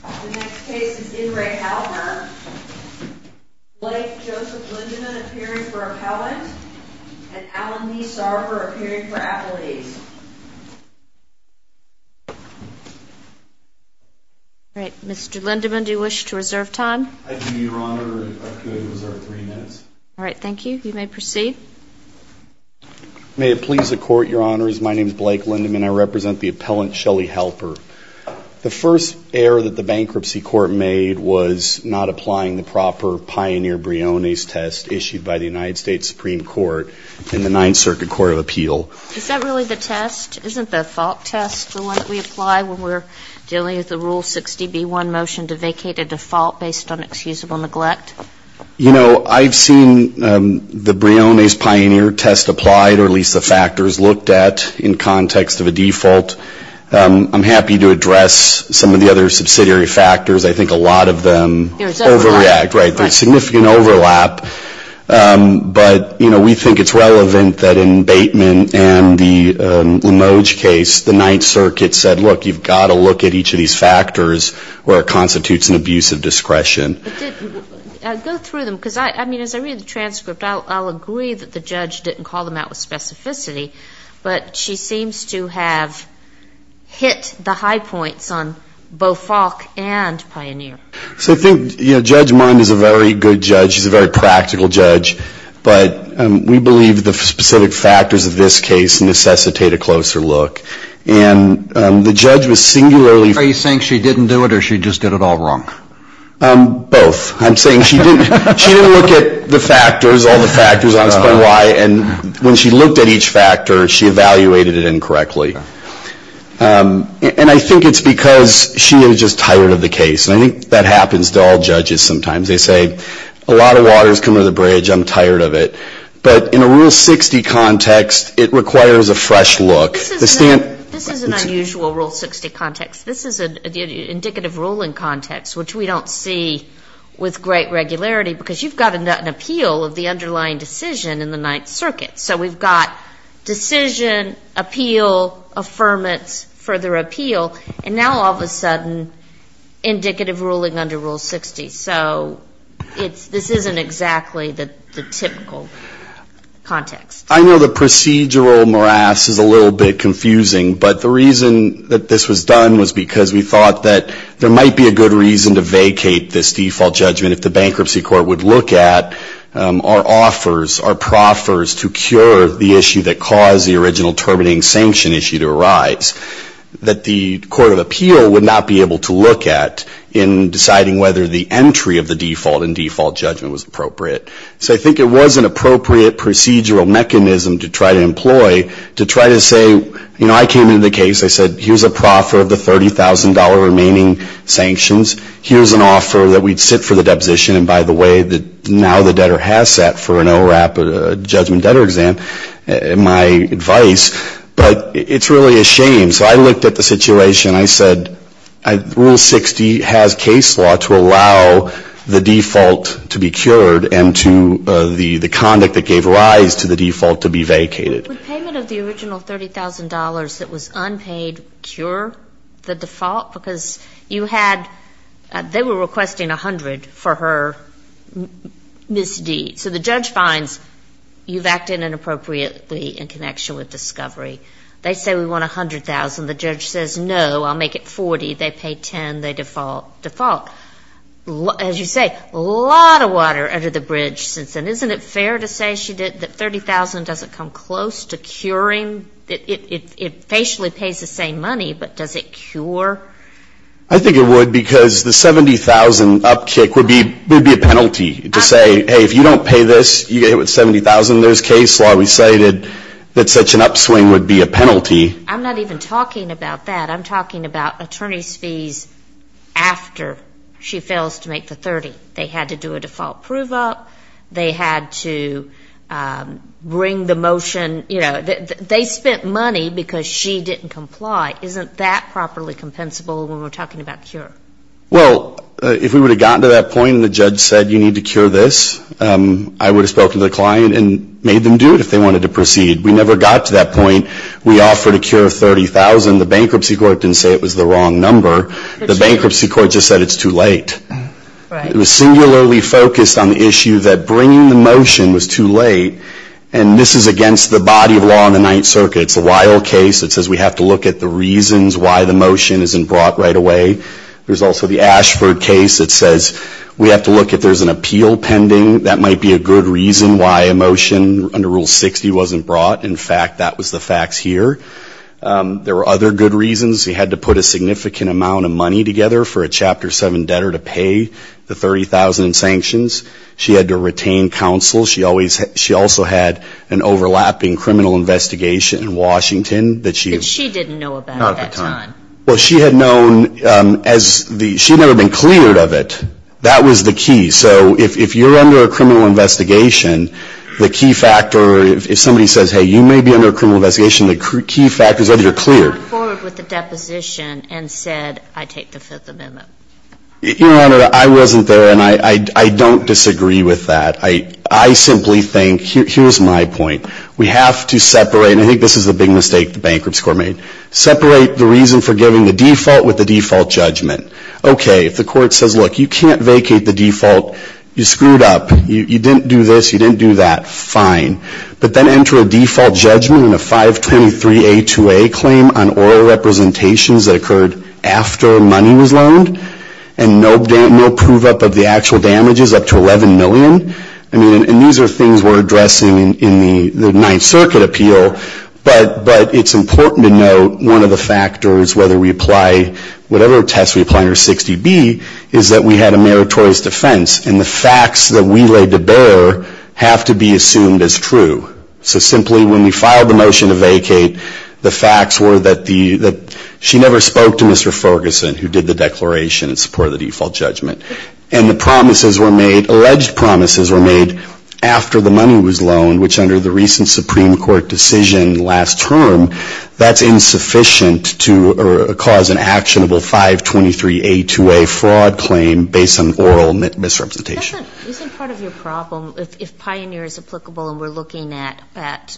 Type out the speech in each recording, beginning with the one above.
The next case is in re. HALPER, Blake Joseph Lindemann appearing for appellant, and Alan Lee Sarver appearing for appellate. Mr. Lindemann, do you wish to reserve time? I do, Your Honor. I could reserve three minutes. All right, thank you. You may proceed. May it please the Court, Your Honors. My name is Blake Lindemann. I represent the appellant Shelly Halper. The first error that the bankruptcy court made was not applying the proper pioneer Briones test issued by the United States Supreme Court in the Ninth Circuit Court of Appeal. Is that really the test? Isn't the fault test the one that we apply when we're dealing with the Rule 60b-1 motion to vacate a default based on excusable neglect? You know, I've seen the Briones pioneer test applied, or at least the factors looked at in context of a default. I'm happy to address some of the other subsidiary factors. I think a lot of them overreact. There's overlap. Right, there's significant overlap. But, you know, we think it's relevant that in Bateman and the Limoge case, the Ninth Circuit said, look, you've got to look at each of these factors where it constitutes an abuse of discretion. Go through them, because, I mean, as I read the transcript, I'll agree that the judge didn't call them out with specificity, but she seems to have hit the high points on both Falk and Pioneer. So I think, you know, Judge Mund is a very good judge. She's a very practical judge. But we believe the specific factors of this case necessitate a closer look. And the judge was singularly Are you saying she didn't do it, or she just did it all wrong? Both. I'm saying she didn't look at the factors, all the factors, and when she looked at each factor, she evaluated it incorrectly. And I think it's because she was just tired of the case. And I think that happens to all judges sometimes. They say, a lot of water is coming to the bridge, I'm tired of it. But in a Rule 60 context, it requires a fresh look. This is an unusual Rule 60 context. This is an indicative ruling context, which we don't see with great regularity, because you've got an appeal of the underlying decision in the Ninth Circuit. So we've got decision, appeal, affirmance, further appeal, and now all of a sudden, indicative ruling under Rule 60. So this isn't exactly the typical context. I know the procedural morass is a little bit confusing, but the reason that this was done was because we thought that there might be a good reason to vacate this default judgment if the bankruptcy court would look at our offers, our proffers to cure the issue that caused the original terminating sanction issue to arise, that the court of appeal would not be able to look at in deciding whether the entry of the default and default judgment was appropriate. So I think it was an appropriate procedural mechanism to try to employ, to try to say, you know, I came into the case, I said, here's a proffer of the $30,000 remaining sanctions, here's an offer that we'd sit for the deposition, and by the way, now the debtor has sat for an ORAP judgment debtor exam, my advice. But it's really a shame. So I looked at the situation, I said, Rule 60 has case law to allow the default to be cured and to the conduct that gave rise to the default to be vacated. With payment of the original $30,000 that was unpaid, cure the default? Because you had, they were requesting $100,000 for her misdeed. So the judge finds you've acted inappropriately in connection with discovery. They say we want $100,000, the judge says no, I'll make it $40,000, they pay $10,000, they default. As you say, a lot of water under the bridge. And isn't it fair to say that $30,000 doesn't come close to curing? It basically pays the same money, but does it cure? I think it would, because the $70,000 up kick would be a penalty to say, hey, if you don't pay this, you get hit with $70,000, there's case law. We say that such an upswing would be a penalty. I'm not even talking about that. I'm talking about attorney's fees after she fails to make the $30,000. They had to do a default prove up, they had to bring the motion, you know, they spent money because she didn't comply. Isn't that properly compensable when we're talking about cure? Well, if we would have gotten to that point and the judge said you need to cure this, I would have talked to the client and made them do it if they wanted to proceed. We never got to that point. We offered a cure of $30,000. The bankruptcy court didn't say it was the wrong number. The bankruptcy court just said it's too late. It was singularly focused on the issue that bringing the motion was too late, and this is against the body of law in the Ninth Circuit. It's the Weill case that says we have to look at the reasons why the motion isn't brought right away. There's also the Ashford case that says we have to look if there's an appeal pending. That might be a good reason why a motion under Rule 60 wasn't brought. In fact, that was the facts here. There were other good reasons. We had to put a significant amount of money together for a Chapter 7 debtor to pay the $30,000 in sanctions. She had to retain counsel. She also had an overlapping criminal investigation in Washington. That she didn't know about at that time. She had never been cleared of it. That was the key. So if you're under a criminal investigation, the key factor, if somebody says, hey, you may be under a criminal investigation, the key factor is that you're cleared. I wasn't there, and I don't disagree with that. I simply think, here's my point. We have to separate, and I think this is a big mistake the Bankruptcy Corps made, separate the reason for giving the default with the default judgment. Okay, if the court says, look, you can't vacate the default, you screwed up, you didn't do this, you didn't do that, fine. But then enter a default judgment and a 523A2A claim on oral representations that occurred after money was loaned, and no prove-up of the actual damages up to $11 million. I mean, and these are things we're addressing in the Ninth Circuit appeal, but it's important to note one of the factors, whether we apply whatever test we apply under 60B, is that we had a meritorious defense. And the facts that we laid to bear have to be assumed as true. So simply, when we filed the motion to vacate, the facts were that she never spoke to Mr. Ferguson, who did the declaration in support of the default judgment. And the promises were made, alleged promises were made after the money was loaned, which under the recent Supreme Court decision last term, that's insufficient to cause an actionable 523A2A fraud claim based on oral misrepresentation. Isn't part of your problem, if Pioneer is applicable and we're looking at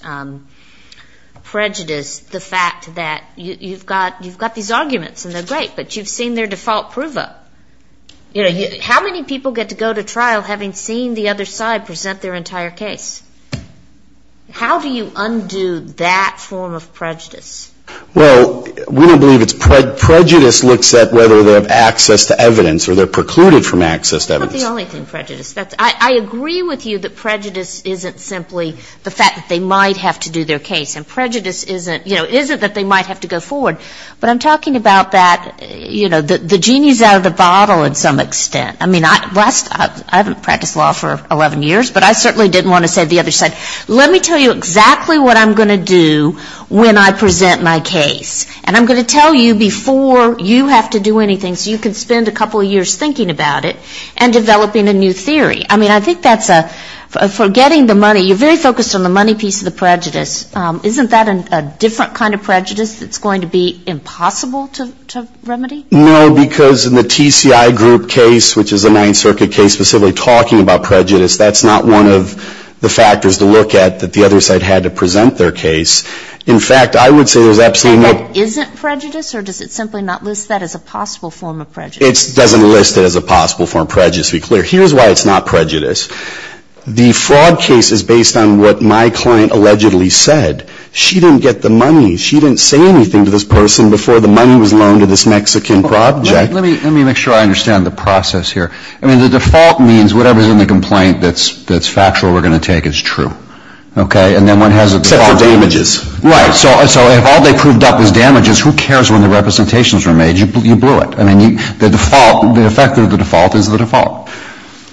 prejudice, the fact that you've got these arguments and they're great, but you've seen their default prove-up. You know, how many people get to go to trial having seen the other side present their entire case? How do you undo that form of prejudice? Well, we don't believe it's prejudice looks at whether they have access to evidence I agree with you that prejudice isn't simply the fact that they might have to do their case. And prejudice isn't, you know, isn't that they might have to go forward. But I'm talking about that, you know, the genie's out of the bottle in some extent. I mean, I haven't practiced law for 11 years, but I certainly didn't want to say to the other side, let me tell you exactly what I'm going to do when I present my case. And I'm going to tell you before you have to do anything so you can spend a couple of years thinking about it and developing a new theory. I mean, I think that's a forgetting the money, you're very focused on the money piece of the prejudice. Isn't that a different kind of prejudice that's going to be impossible to remedy? No, because in the TCI group case, which is a Ninth Circuit case specifically talking about prejudice, that's not one of the factors to look at that the other side had to present their case. In fact, I would say there's absolutely no ---- And that isn't prejudice, or does it simply not list that as a possible form of prejudice? It doesn't list it as a possible form of prejudice, to be clear. Here's why it's not prejudice. The fraud case is based on what my client allegedly said. She didn't get the money. She didn't say anything to this person before the money was loaned to this Mexican project. Let me make sure I understand the process here. I mean, the default means whatever's in the complaint that's factual we're going to take is true, okay? And then one has a default. Except for damages. Right. So if all they proved up is damages, who cares when the representations were made? You blew it. I mean, the default, the effect of the default is the default.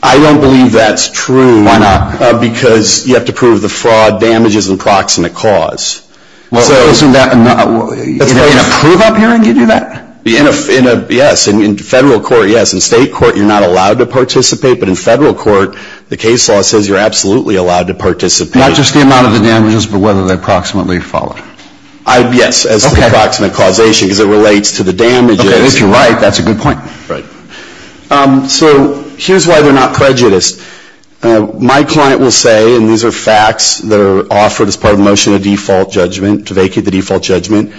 I don't believe that's true. Why not? Because you have to prove the fraud damages and proximate cause. Well, isn't that in a prove-up hearing you do that? Yes. In federal court, yes. In state court, you're not allowed to participate. But in federal court, the case law says you're absolutely allowed to participate. Not just the amount of the damages, but whether they're proximately followed. Yes, as the proximate causation, because it relates to the damages. Okay, if you're right, that's a good point. Right. So here's why they're not prejudice. My client will say, and these are facts that are offered as part of the motion of default judgment, to vacate the default judgment,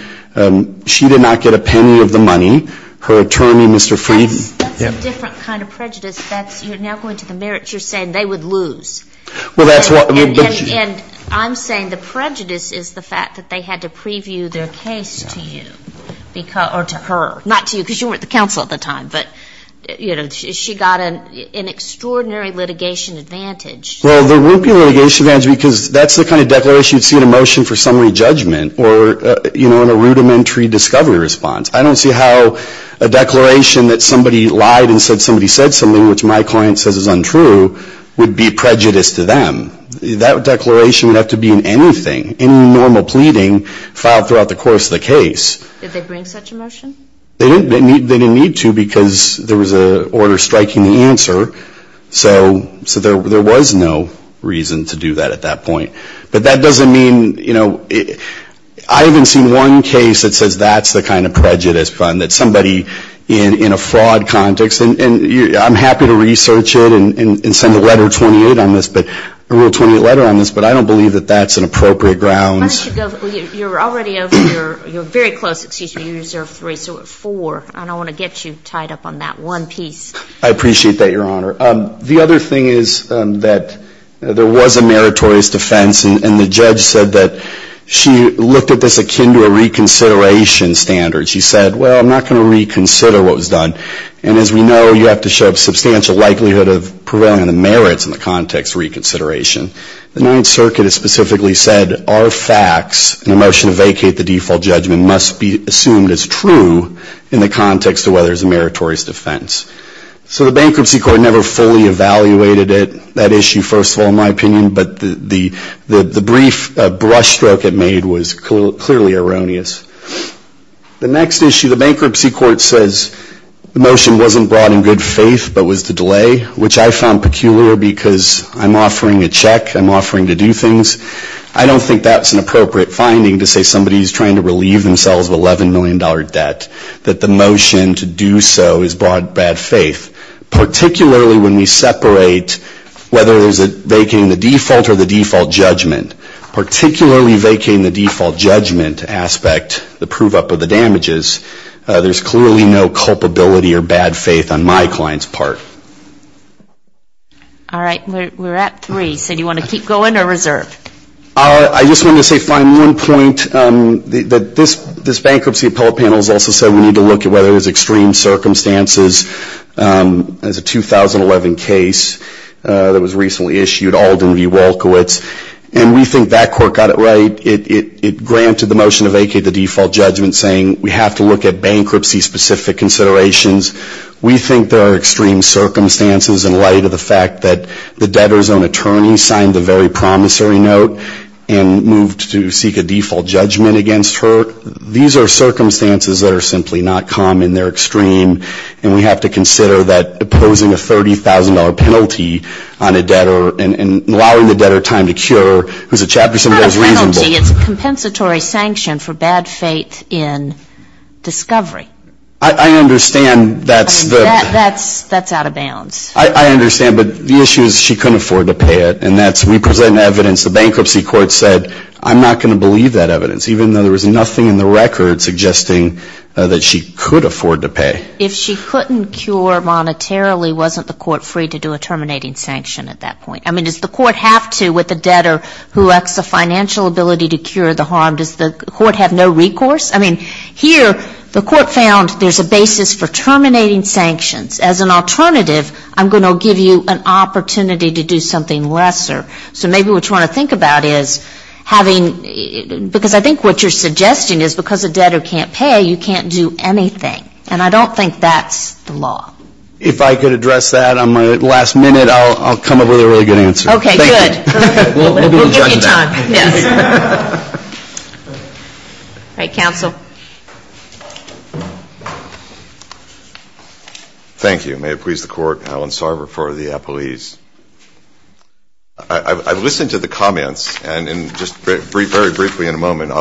she did not get a penny of the money, her attorney, Mr. Frieden. That's a different kind of prejudice. You're now going to the merits. You're saying they would lose. And I'm saying the prejudice is the fact that they had to preview their case to you, or to her. Not to you, because you weren't the counsel at the time. But, you know, she got an extraordinary litigation advantage. Well, there wouldn't be a litigation advantage because that's the kind of declaration you'd see in a motion for summary judgment. Or, you know, in a rudimentary discovery response. I don't see how a declaration that somebody lied and said somebody said something, which my client says is untrue, would be prejudice to them. That declaration would have to be in anything, any normal pleading filed throughout the course of the case. Did they bring such a motion? They didn't need to because there was an order striking the answer. So there was no reason to do that at that point. But that doesn't mean, you know, I haven't seen one case that says that's the kind of prejudice fund. That somebody in a fraud context, and I'm happy to research it and send a letter 28 on this, a real 28 letter on this, but I don't believe that that's an appropriate grounds. Why don't you go, you're already over, you're very close, excuse me, you deserve three, so four. And I want to get you tied up on that one piece. I appreciate that, Your Honor. The other thing is that there was a meritorious defense, and the judge said that she looked at this akin to a reconsideration standard. She said, well, I'm not going to reconsider what was done. And as we know, you have to show substantial likelihood of prevailing on the merits in the context of reconsideration. The Ninth Circuit has specifically said, our facts in the motion to vacate the default judgment must be assumed as true in the context of whether it's a meritorious defense. So the Bankruptcy Court never fully evaluated it, that issue, first of all, in my opinion, but the brief brush stroke it made was clearly erroneous. The next issue, the Bankruptcy Court says the motion wasn't brought in good faith, but was to delay, which I found peculiar because I'm offering a check, I'm offering to do things. I don't think that's an appropriate finding to say somebody is trying to relieve themselves of $11 million debt, that the motion to do so is brought in bad faith, particularly when we separate whether there's a vacating the default or the default judgment. Particularly vacating the default judgment aspect, the prove up of the damages, there's clearly no culpability or bad faith on my client's part. All right. We're at three, so do you want to keep going or reserve? I just wanted to say, fine, one point, that this bankruptcy appellate panel has also said we need to look at whether there's extreme circumstances. There's a 2011 case that was recently issued, Alden v. Wolkowitz, and we think that court got it right. It granted the motion to vacate the default judgment, saying we have to look at bankruptcy-specific considerations. We think there are extreme circumstances in light of the fact that the debtor's own attorney signed the very promissory note and moved to seek a default judgment against her. These are circumstances that are simply not common. They're extreme, and we have to consider that opposing a $30,000 penalty on a debtor and allowing the debtor time to cure, who's a chapter symbol, is reasonable. It's not a penalty. It's a compensatory sanction for bad faith in discovery. I understand. That's out of bounds. I understand. But the issue is she couldn't afford to pay it, and that's we present evidence. The bankruptcy court said I'm not going to believe that evidence, even though there was nothing in the record suggesting that she could afford to pay. If she couldn't cure monetarily, wasn't the court free to do a terminating sanction at that point? I mean, does the court have to with a debtor who lacks the financial ability to cure the harm? Does the court have no recourse? I mean, here the court found there's a basis for terminating sanctions. As an alternative, I'm going to give you an opportunity to do something lesser. So maybe what you want to think about is having, because I think what you're suggesting is because a debtor can't pay, you can't do anything. And I don't think that's the law. If I could address that on my last minute, I'll come up with a really good answer. Okay, good. We'll give you time. Yes. All right, counsel. Thank you. May it please the court, Alan Sarver for the appellees. I've listened to the comments, and just very briefly in a moment,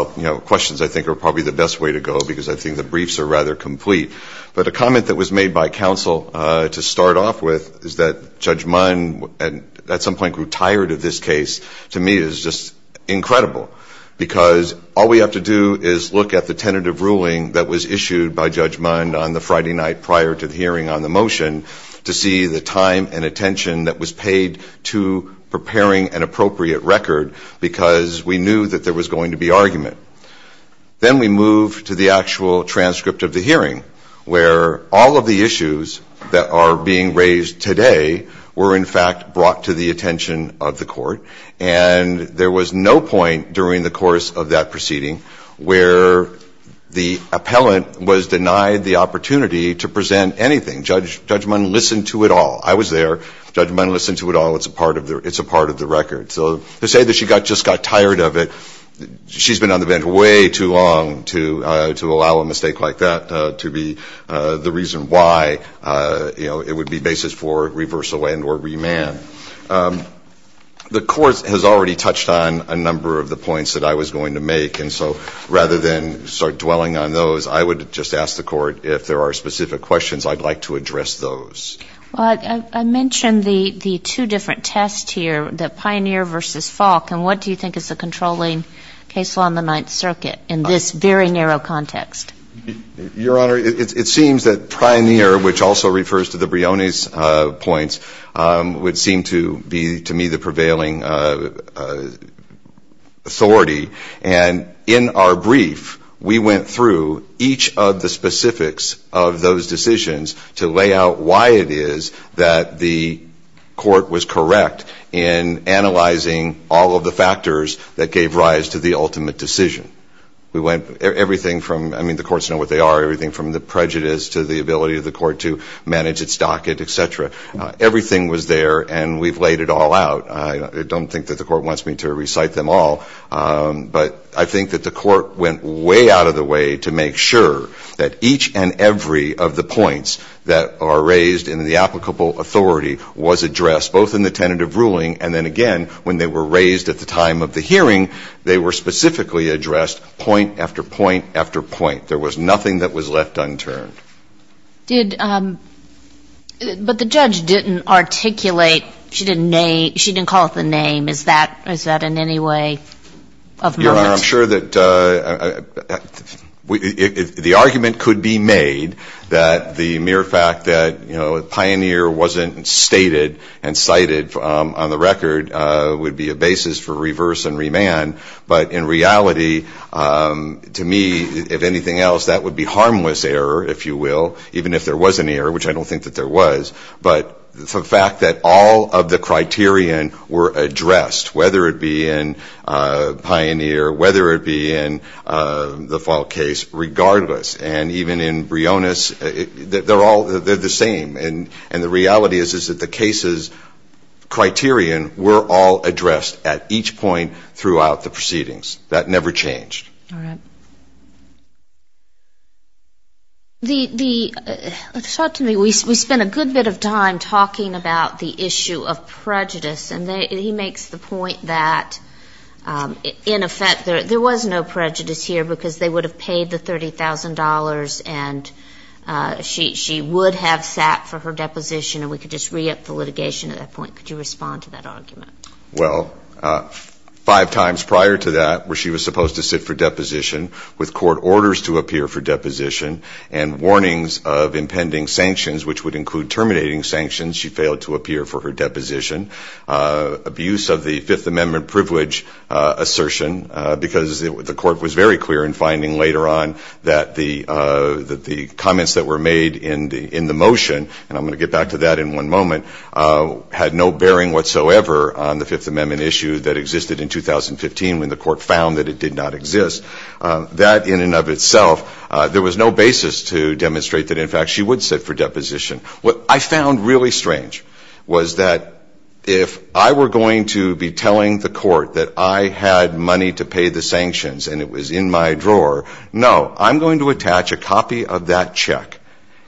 questions I think are probably the best way to go because I think the briefs are rather complete. But a comment that was made by counsel to start off with is that Judge Munn at some point grew tired of this case. To me, it's just incredible because all we have to do is look at the tentative ruling that was issued by Judge Munn on the Friday night prior to the hearing on the motion to see the time and attention that was paid to preparing an appropriate record because we knew that there was going to be argument. Then we move to the actual transcript of the hearing where all of the issues that are being raised today were, in fact, brought to the attention of the court. And there was no point during the course of that proceeding where the appellant was denied the opportunity to present anything. Judge Munn listened to it all. I was there. Judge Munn listened to it all. It's a part of the record. So to say that she just got tired of it, she's been on the bench way too long to allow a mistake like that to be the reason why, you know, it would be basis for reversal and or remand. The court has already touched on a number of the points that I was going to make. And so rather than start dwelling on those, I would just ask the court if there are specific questions, I'd like to address those. Well, I mentioned the two different tests here, the Pioneer v. Falk. And what do you think is the controlling case law in the Ninth Circuit in this very narrow context? Your Honor, it seems that Pioneer, which also refers to the Brioni's points, would seem to be, to me, the prevailing authority. And in our brief, we went through each of the specifics of those decisions to lay out why it is that the court was correct in analyzing all of the factors that gave rise to the ultimate decision. We went everything from, I mean, the courts know what they are, everything from the prejudice to the ability of the court to manage its docket, et cetera. Everything was there, and we've laid it all out. I don't think that the court wants me to recite them all, but I think that the court went way out of the way to make sure that each and every of the points that are raised in the applicable authority was addressed, both in the tentative ruling, and then, again, when they were raised at the time of the hearing, they were specifically addressed point after point after point. There was nothing that was left unturned. But the judge didn't articulate, she didn't call it the name. Is that in any way of merit? Your Honor, I'm sure that the argument could be made that the mere fact that, you know, would be a basis for reverse and remand, but in reality, to me, if anything else, that would be harmless error, if you will, even if there was an error, which I don't think that there was, but the fact that all of the criterion were addressed, whether it be in Pioneer, whether it be in the Fall case, regardless. And even in Brionis, they're all the same. And the reality is that the case's criterion were all addressed at each point throughout the proceedings. That never changed. All right. Let's talk to me. We spent a good bit of time talking about the issue of prejudice, and he makes the point that, in effect, there was no prejudice here because they would have paid the $30,000 and she would have sat for her deposition and we could just re-up the litigation at that point. Could you respond to that argument? Well, five times prior to that, where she was supposed to sit for deposition, with court orders to appear for deposition and warnings of impending sanctions, which would include terminating sanctions, she failed to appear for her deposition. Abuse of the Fifth Amendment privilege assertion, because the court was very clear in finding later on that the comments that were made in the motion, and I'm going to get back to that in one moment, had no bearing whatsoever on the Fifth Amendment issue that existed in 2015 when the court found that it did not exist. That, in and of itself, there was no basis to demonstrate that, in fact, she would sit for deposition. What I found really strange was that if I were going to be telling the court that I had money to pay the sanctions and it was in my drawer, no, I'm going to attach a copy of that check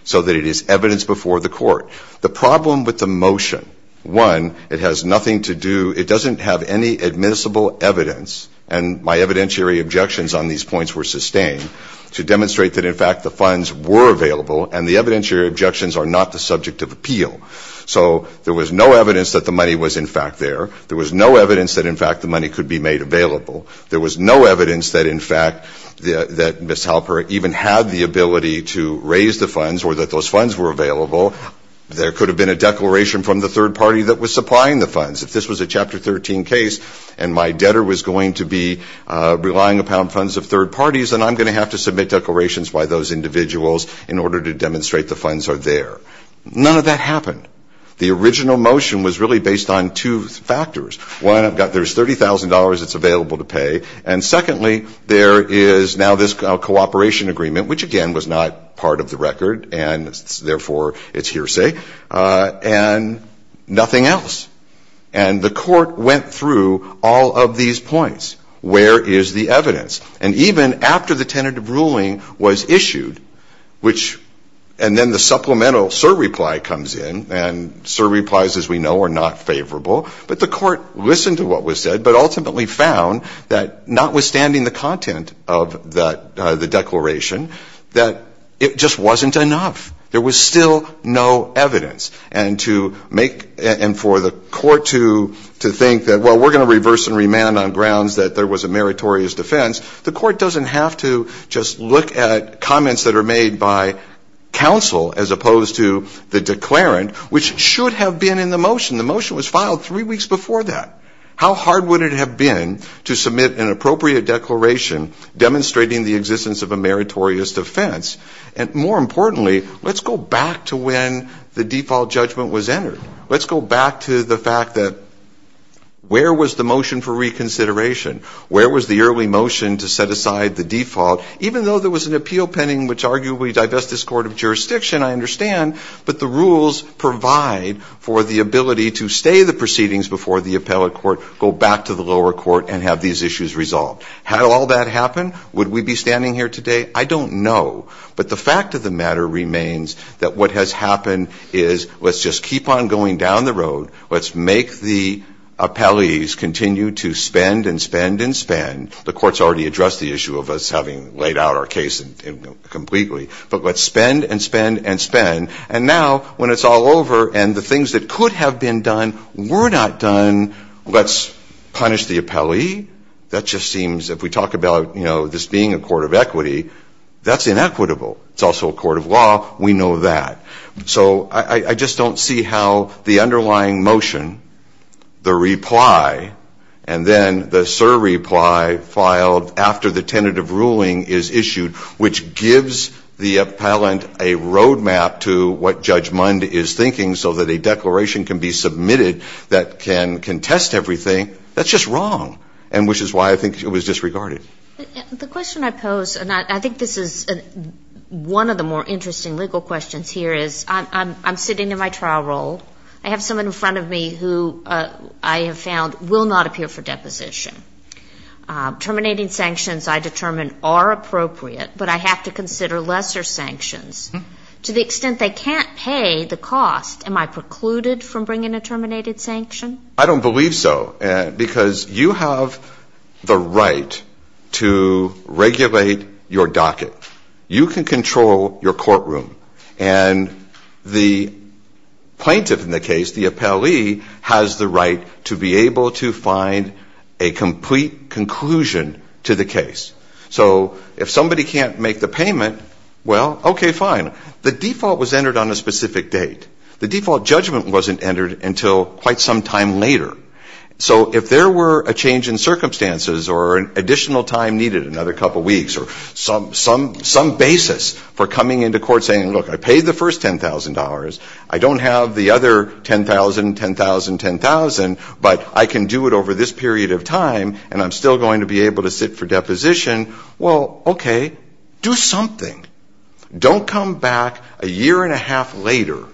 so that it is evidence before the court. The problem with the motion, one, it has nothing to do, it doesn't have any admissible evidence, and my evidentiary objections on these points were sustained, to demonstrate that, in fact, the funds were available and the evidentiary objections are not the subject of appeal. So there was no evidence that the money was, in fact, there. There was no evidence that, in fact, the money could be made available. There was no evidence that, in fact, that Ms. Halper even had the ability to raise the funds or that those funds were available. There could have been a declaration from the third party that was supplying the funds. If this was a Chapter 13 case and my debtor was going to be relying upon funds of third parties, then I'm going to have to submit declarations by those individuals in order to demonstrate the funds are there. None of that happened. The original motion was really based on two factors. One, there's $30,000 that's available to pay, and secondly, there is now this cooperation agreement, which, again, was not part of the record, and, therefore, it's hearsay. And nothing else. And the court went through all of these points. Where is the evidence? And even after the tentative ruling was issued, which – and then the supplemental SIR reply comes in, and SIR replies, as we know, are not favorable, but the court listened to what was said, but ultimately found that notwithstanding the content of the declaration, that it just wasn't enough. There was still no evidence. And for the court to think that, well, we're going to reverse and remand on grounds that there was a meritorious defense, the court doesn't have to just look at comments that are made by counsel as opposed to the declarant, which should have been in the motion. The motion was filed three weeks before that. How hard would it have been to submit an appropriate declaration demonstrating the existence of a meritorious defense? And, more importantly, let's go back to when the default judgment was entered. Let's go back to the fact that where was the motion for reconsideration? Where was the early motion to set aside the default? Even though there was an appeal pending, which arguably divests this court of jurisdiction, I understand, but the rules provide for the ability to stay the proceedings before the appellate court, go back to the lower court, and have these issues resolved. Had all that happened, would we be standing here today? I don't know. But the fact of the matter remains that what has happened is let's just keep on going down the road. Let's make the appellees continue to spend and spend and spend. The court's already addressed the issue of us having laid out our case completely. But let's spend and spend and spend. And now, when it's all over and the things that could have been done were not done, let's punish the appellee. That just seems, if we talk about, you know, this being a court of equity, that's inequitable. It's also a court of law. We know that. So I just don't see how the underlying motion, the reply, and then the surreply filed after the tentative ruling is issued, which gives the appellant a roadmap to what Judge Mund is thinking so that a declaration can be submitted that can contest everything. That's just wrong, and which is why I think it was disregarded. The question I pose, and I think this is one of the more interesting legal questions here, is I'm sitting in my trial role. I have someone in front of me who I have found will not appear for deposition. Terminating sanctions, I determine, are appropriate, but I have to consider lesser sanctions. To the extent they can't pay the cost, am I precluded from bringing a terminated sanction? I don't believe so, because you have the right to regulate your docket. You can control your courtroom. And the plaintiff in the case, the appellee, has the right to be able to find a complete conclusion to the case. So if somebody can't make the payment, well, okay, fine. The default was entered on a specific date. The default judgment wasn't entered until quite some time later. So if there were a change in circumstances or an additional time needed, another couple weeks, or some basis for coming into court saying, look, I paid the first $10,000. I don't have the other $10,000, $10,000, $10,000, but I can do it over this period of time, and I'm still going to be able to sit for deposition, well, okay, do something. Don't come back a year and a half later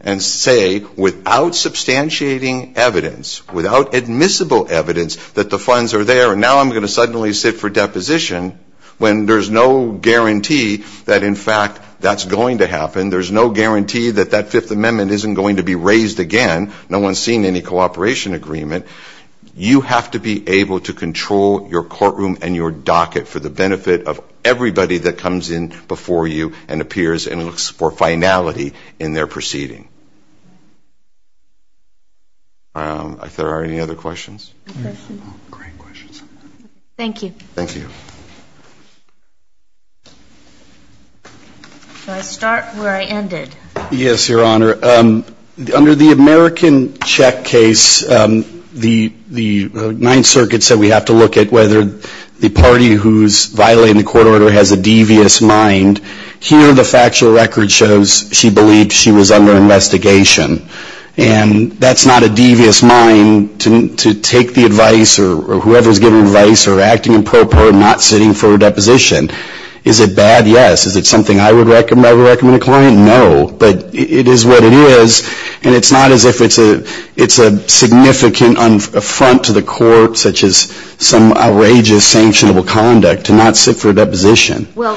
and say, without substantiating evidence, without admissible evidence that the funds are there, now I'm going to suddenly sit for deposition when there's no guarantee that, in fact, that's going to happen. There's no guarantee that that Fifth Amendment isn't going to be raised again. No one's seen any cooperation agreement. You have to be able to control your courtroom and your docket for the benefit of everybody that comes in before you and appears and looks for finality in their proceeding. If there are any other questions? No questions. Great questions. Thank you. Thank you. Should I start where I ended? Yes, Your Honor. Under the American check case, the Ninth Circuit said we have to look at whether the party who's violating the court order has a devious mind. And here the factual record shows she believed she was under investigation. And that's not a devious mind to take the advice or whoever's giving advice or acting improper and not sitting for a deposition. Is it bad? Yes. Is it something I would recommend to a client? No. But it is what it is, and it's not as if it's a significant affront to the court, such as some outrageous, sanctionable conduct, to not sit for a deposition. Well,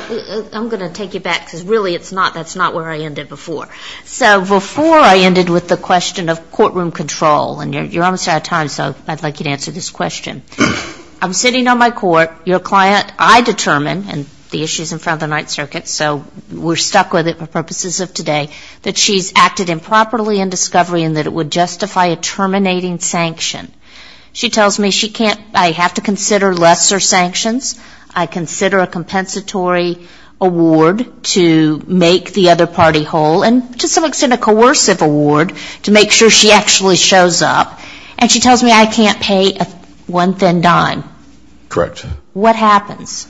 I'm going to take you back, because really it's not. That's not where I ended before. So before I ended with the question of courtroom control, and you're almost out of time, so I'd like you to answer this question. I'm sitting on my court. Your client, I determine, and the issue's in front of the Ninth Circuit, so we're stuck with it for purposes of today, that she's acted improperly in discovery and that it would justify a terminating sanction. She tells me she can't. I have to consider lesser sanctions. I consider a compensatory award to make the other party whole and to some extent a coercive award to make sure she actually shows up. And she tells me I can't pay one thin dime. Correct. What happens?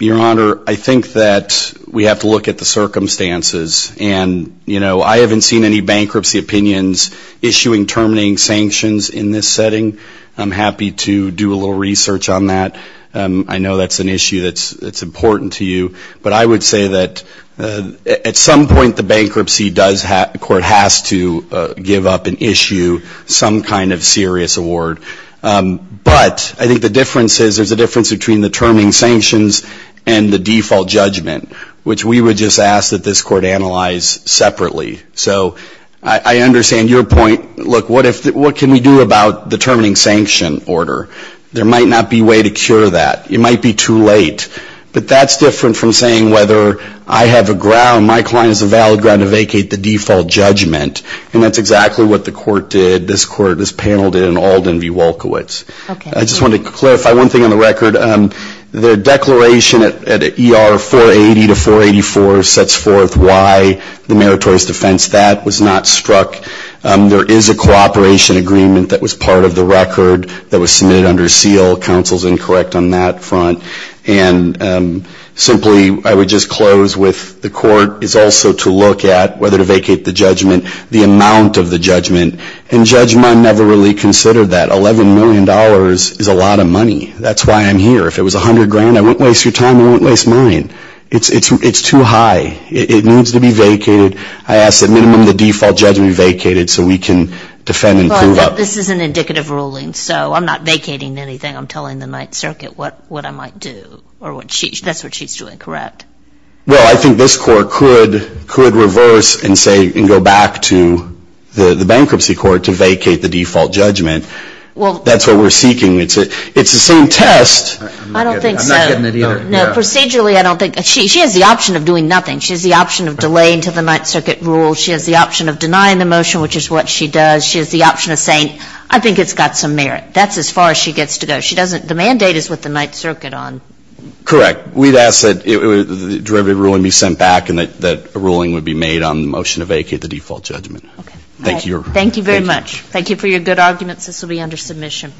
Your Honor, I think that we have to look at the circumstances. And, you know, I haven't seen any bankruptcy opinions issuing terminating sanctions in this setting. I'm happy to do a little research on that. I know that's an issue that's important to you. But I would say that at some point the bankruptcy court has to give up an issue, some kind of serious award. But I think the difference is there's a difference between the terminating sanctions and the default judgment, which we would just ask that this court analyze separately. So I understand your point. Look, what can we do about the terminating sanction order? There might not be a way to cure that. It might be too late. But that's different from saying whether I have a ground, my client has a valid ground to vacate the default judgment. And that's exactly what the court did, this court, this panel did, in Alden v. Wolkowitz. I just want to clarify one thing on the record. The declaration at ER 480 to 484 sets forth why the meritorious defense, that was not struck. There is a cooperation agreement that was part of the record that was submitted under seal. Counsel's incorrect on that front. And simply I would just close with the court is also to look at whether to vacate the judgment, the amount of the judgment. And Judge Munn never really considered that. $11 million is a lot of money. That's why I'm here. If it was $100 grand, I wouldn't waste your time. I wouldn't waste mine. It's too high. It needs to be vacated. I ask that minimum the default judgment be vacated so we can defend and prove it. But this is an indicative ruling, so I'm not vacating anything. I'm telling the Ninth Circuit what I might do. That's what she's doing, correct? Well, I think this court could reverse and go back to the bankruptcy court to vacate the default judgment. That's what we're seeking. It's the same test. I don't think so. I'm not getting the deal. No, procedurally I don't think. She has the option of doing nothing. She has the option of delaying until the Ninth Circuit rules. She has the option of denying the motion, which is what she does. She has the option of saying, I think it's got some merit. That's as far as she gets to go. The mandate is what the Ninth Circuit on. Correct. We'd ask that the derivative ruling be sent back and that a ruling would be made on the motion to vacate the default judgment. Thank you. Thank you very much. Thank you for your good arguments. This will be under submission.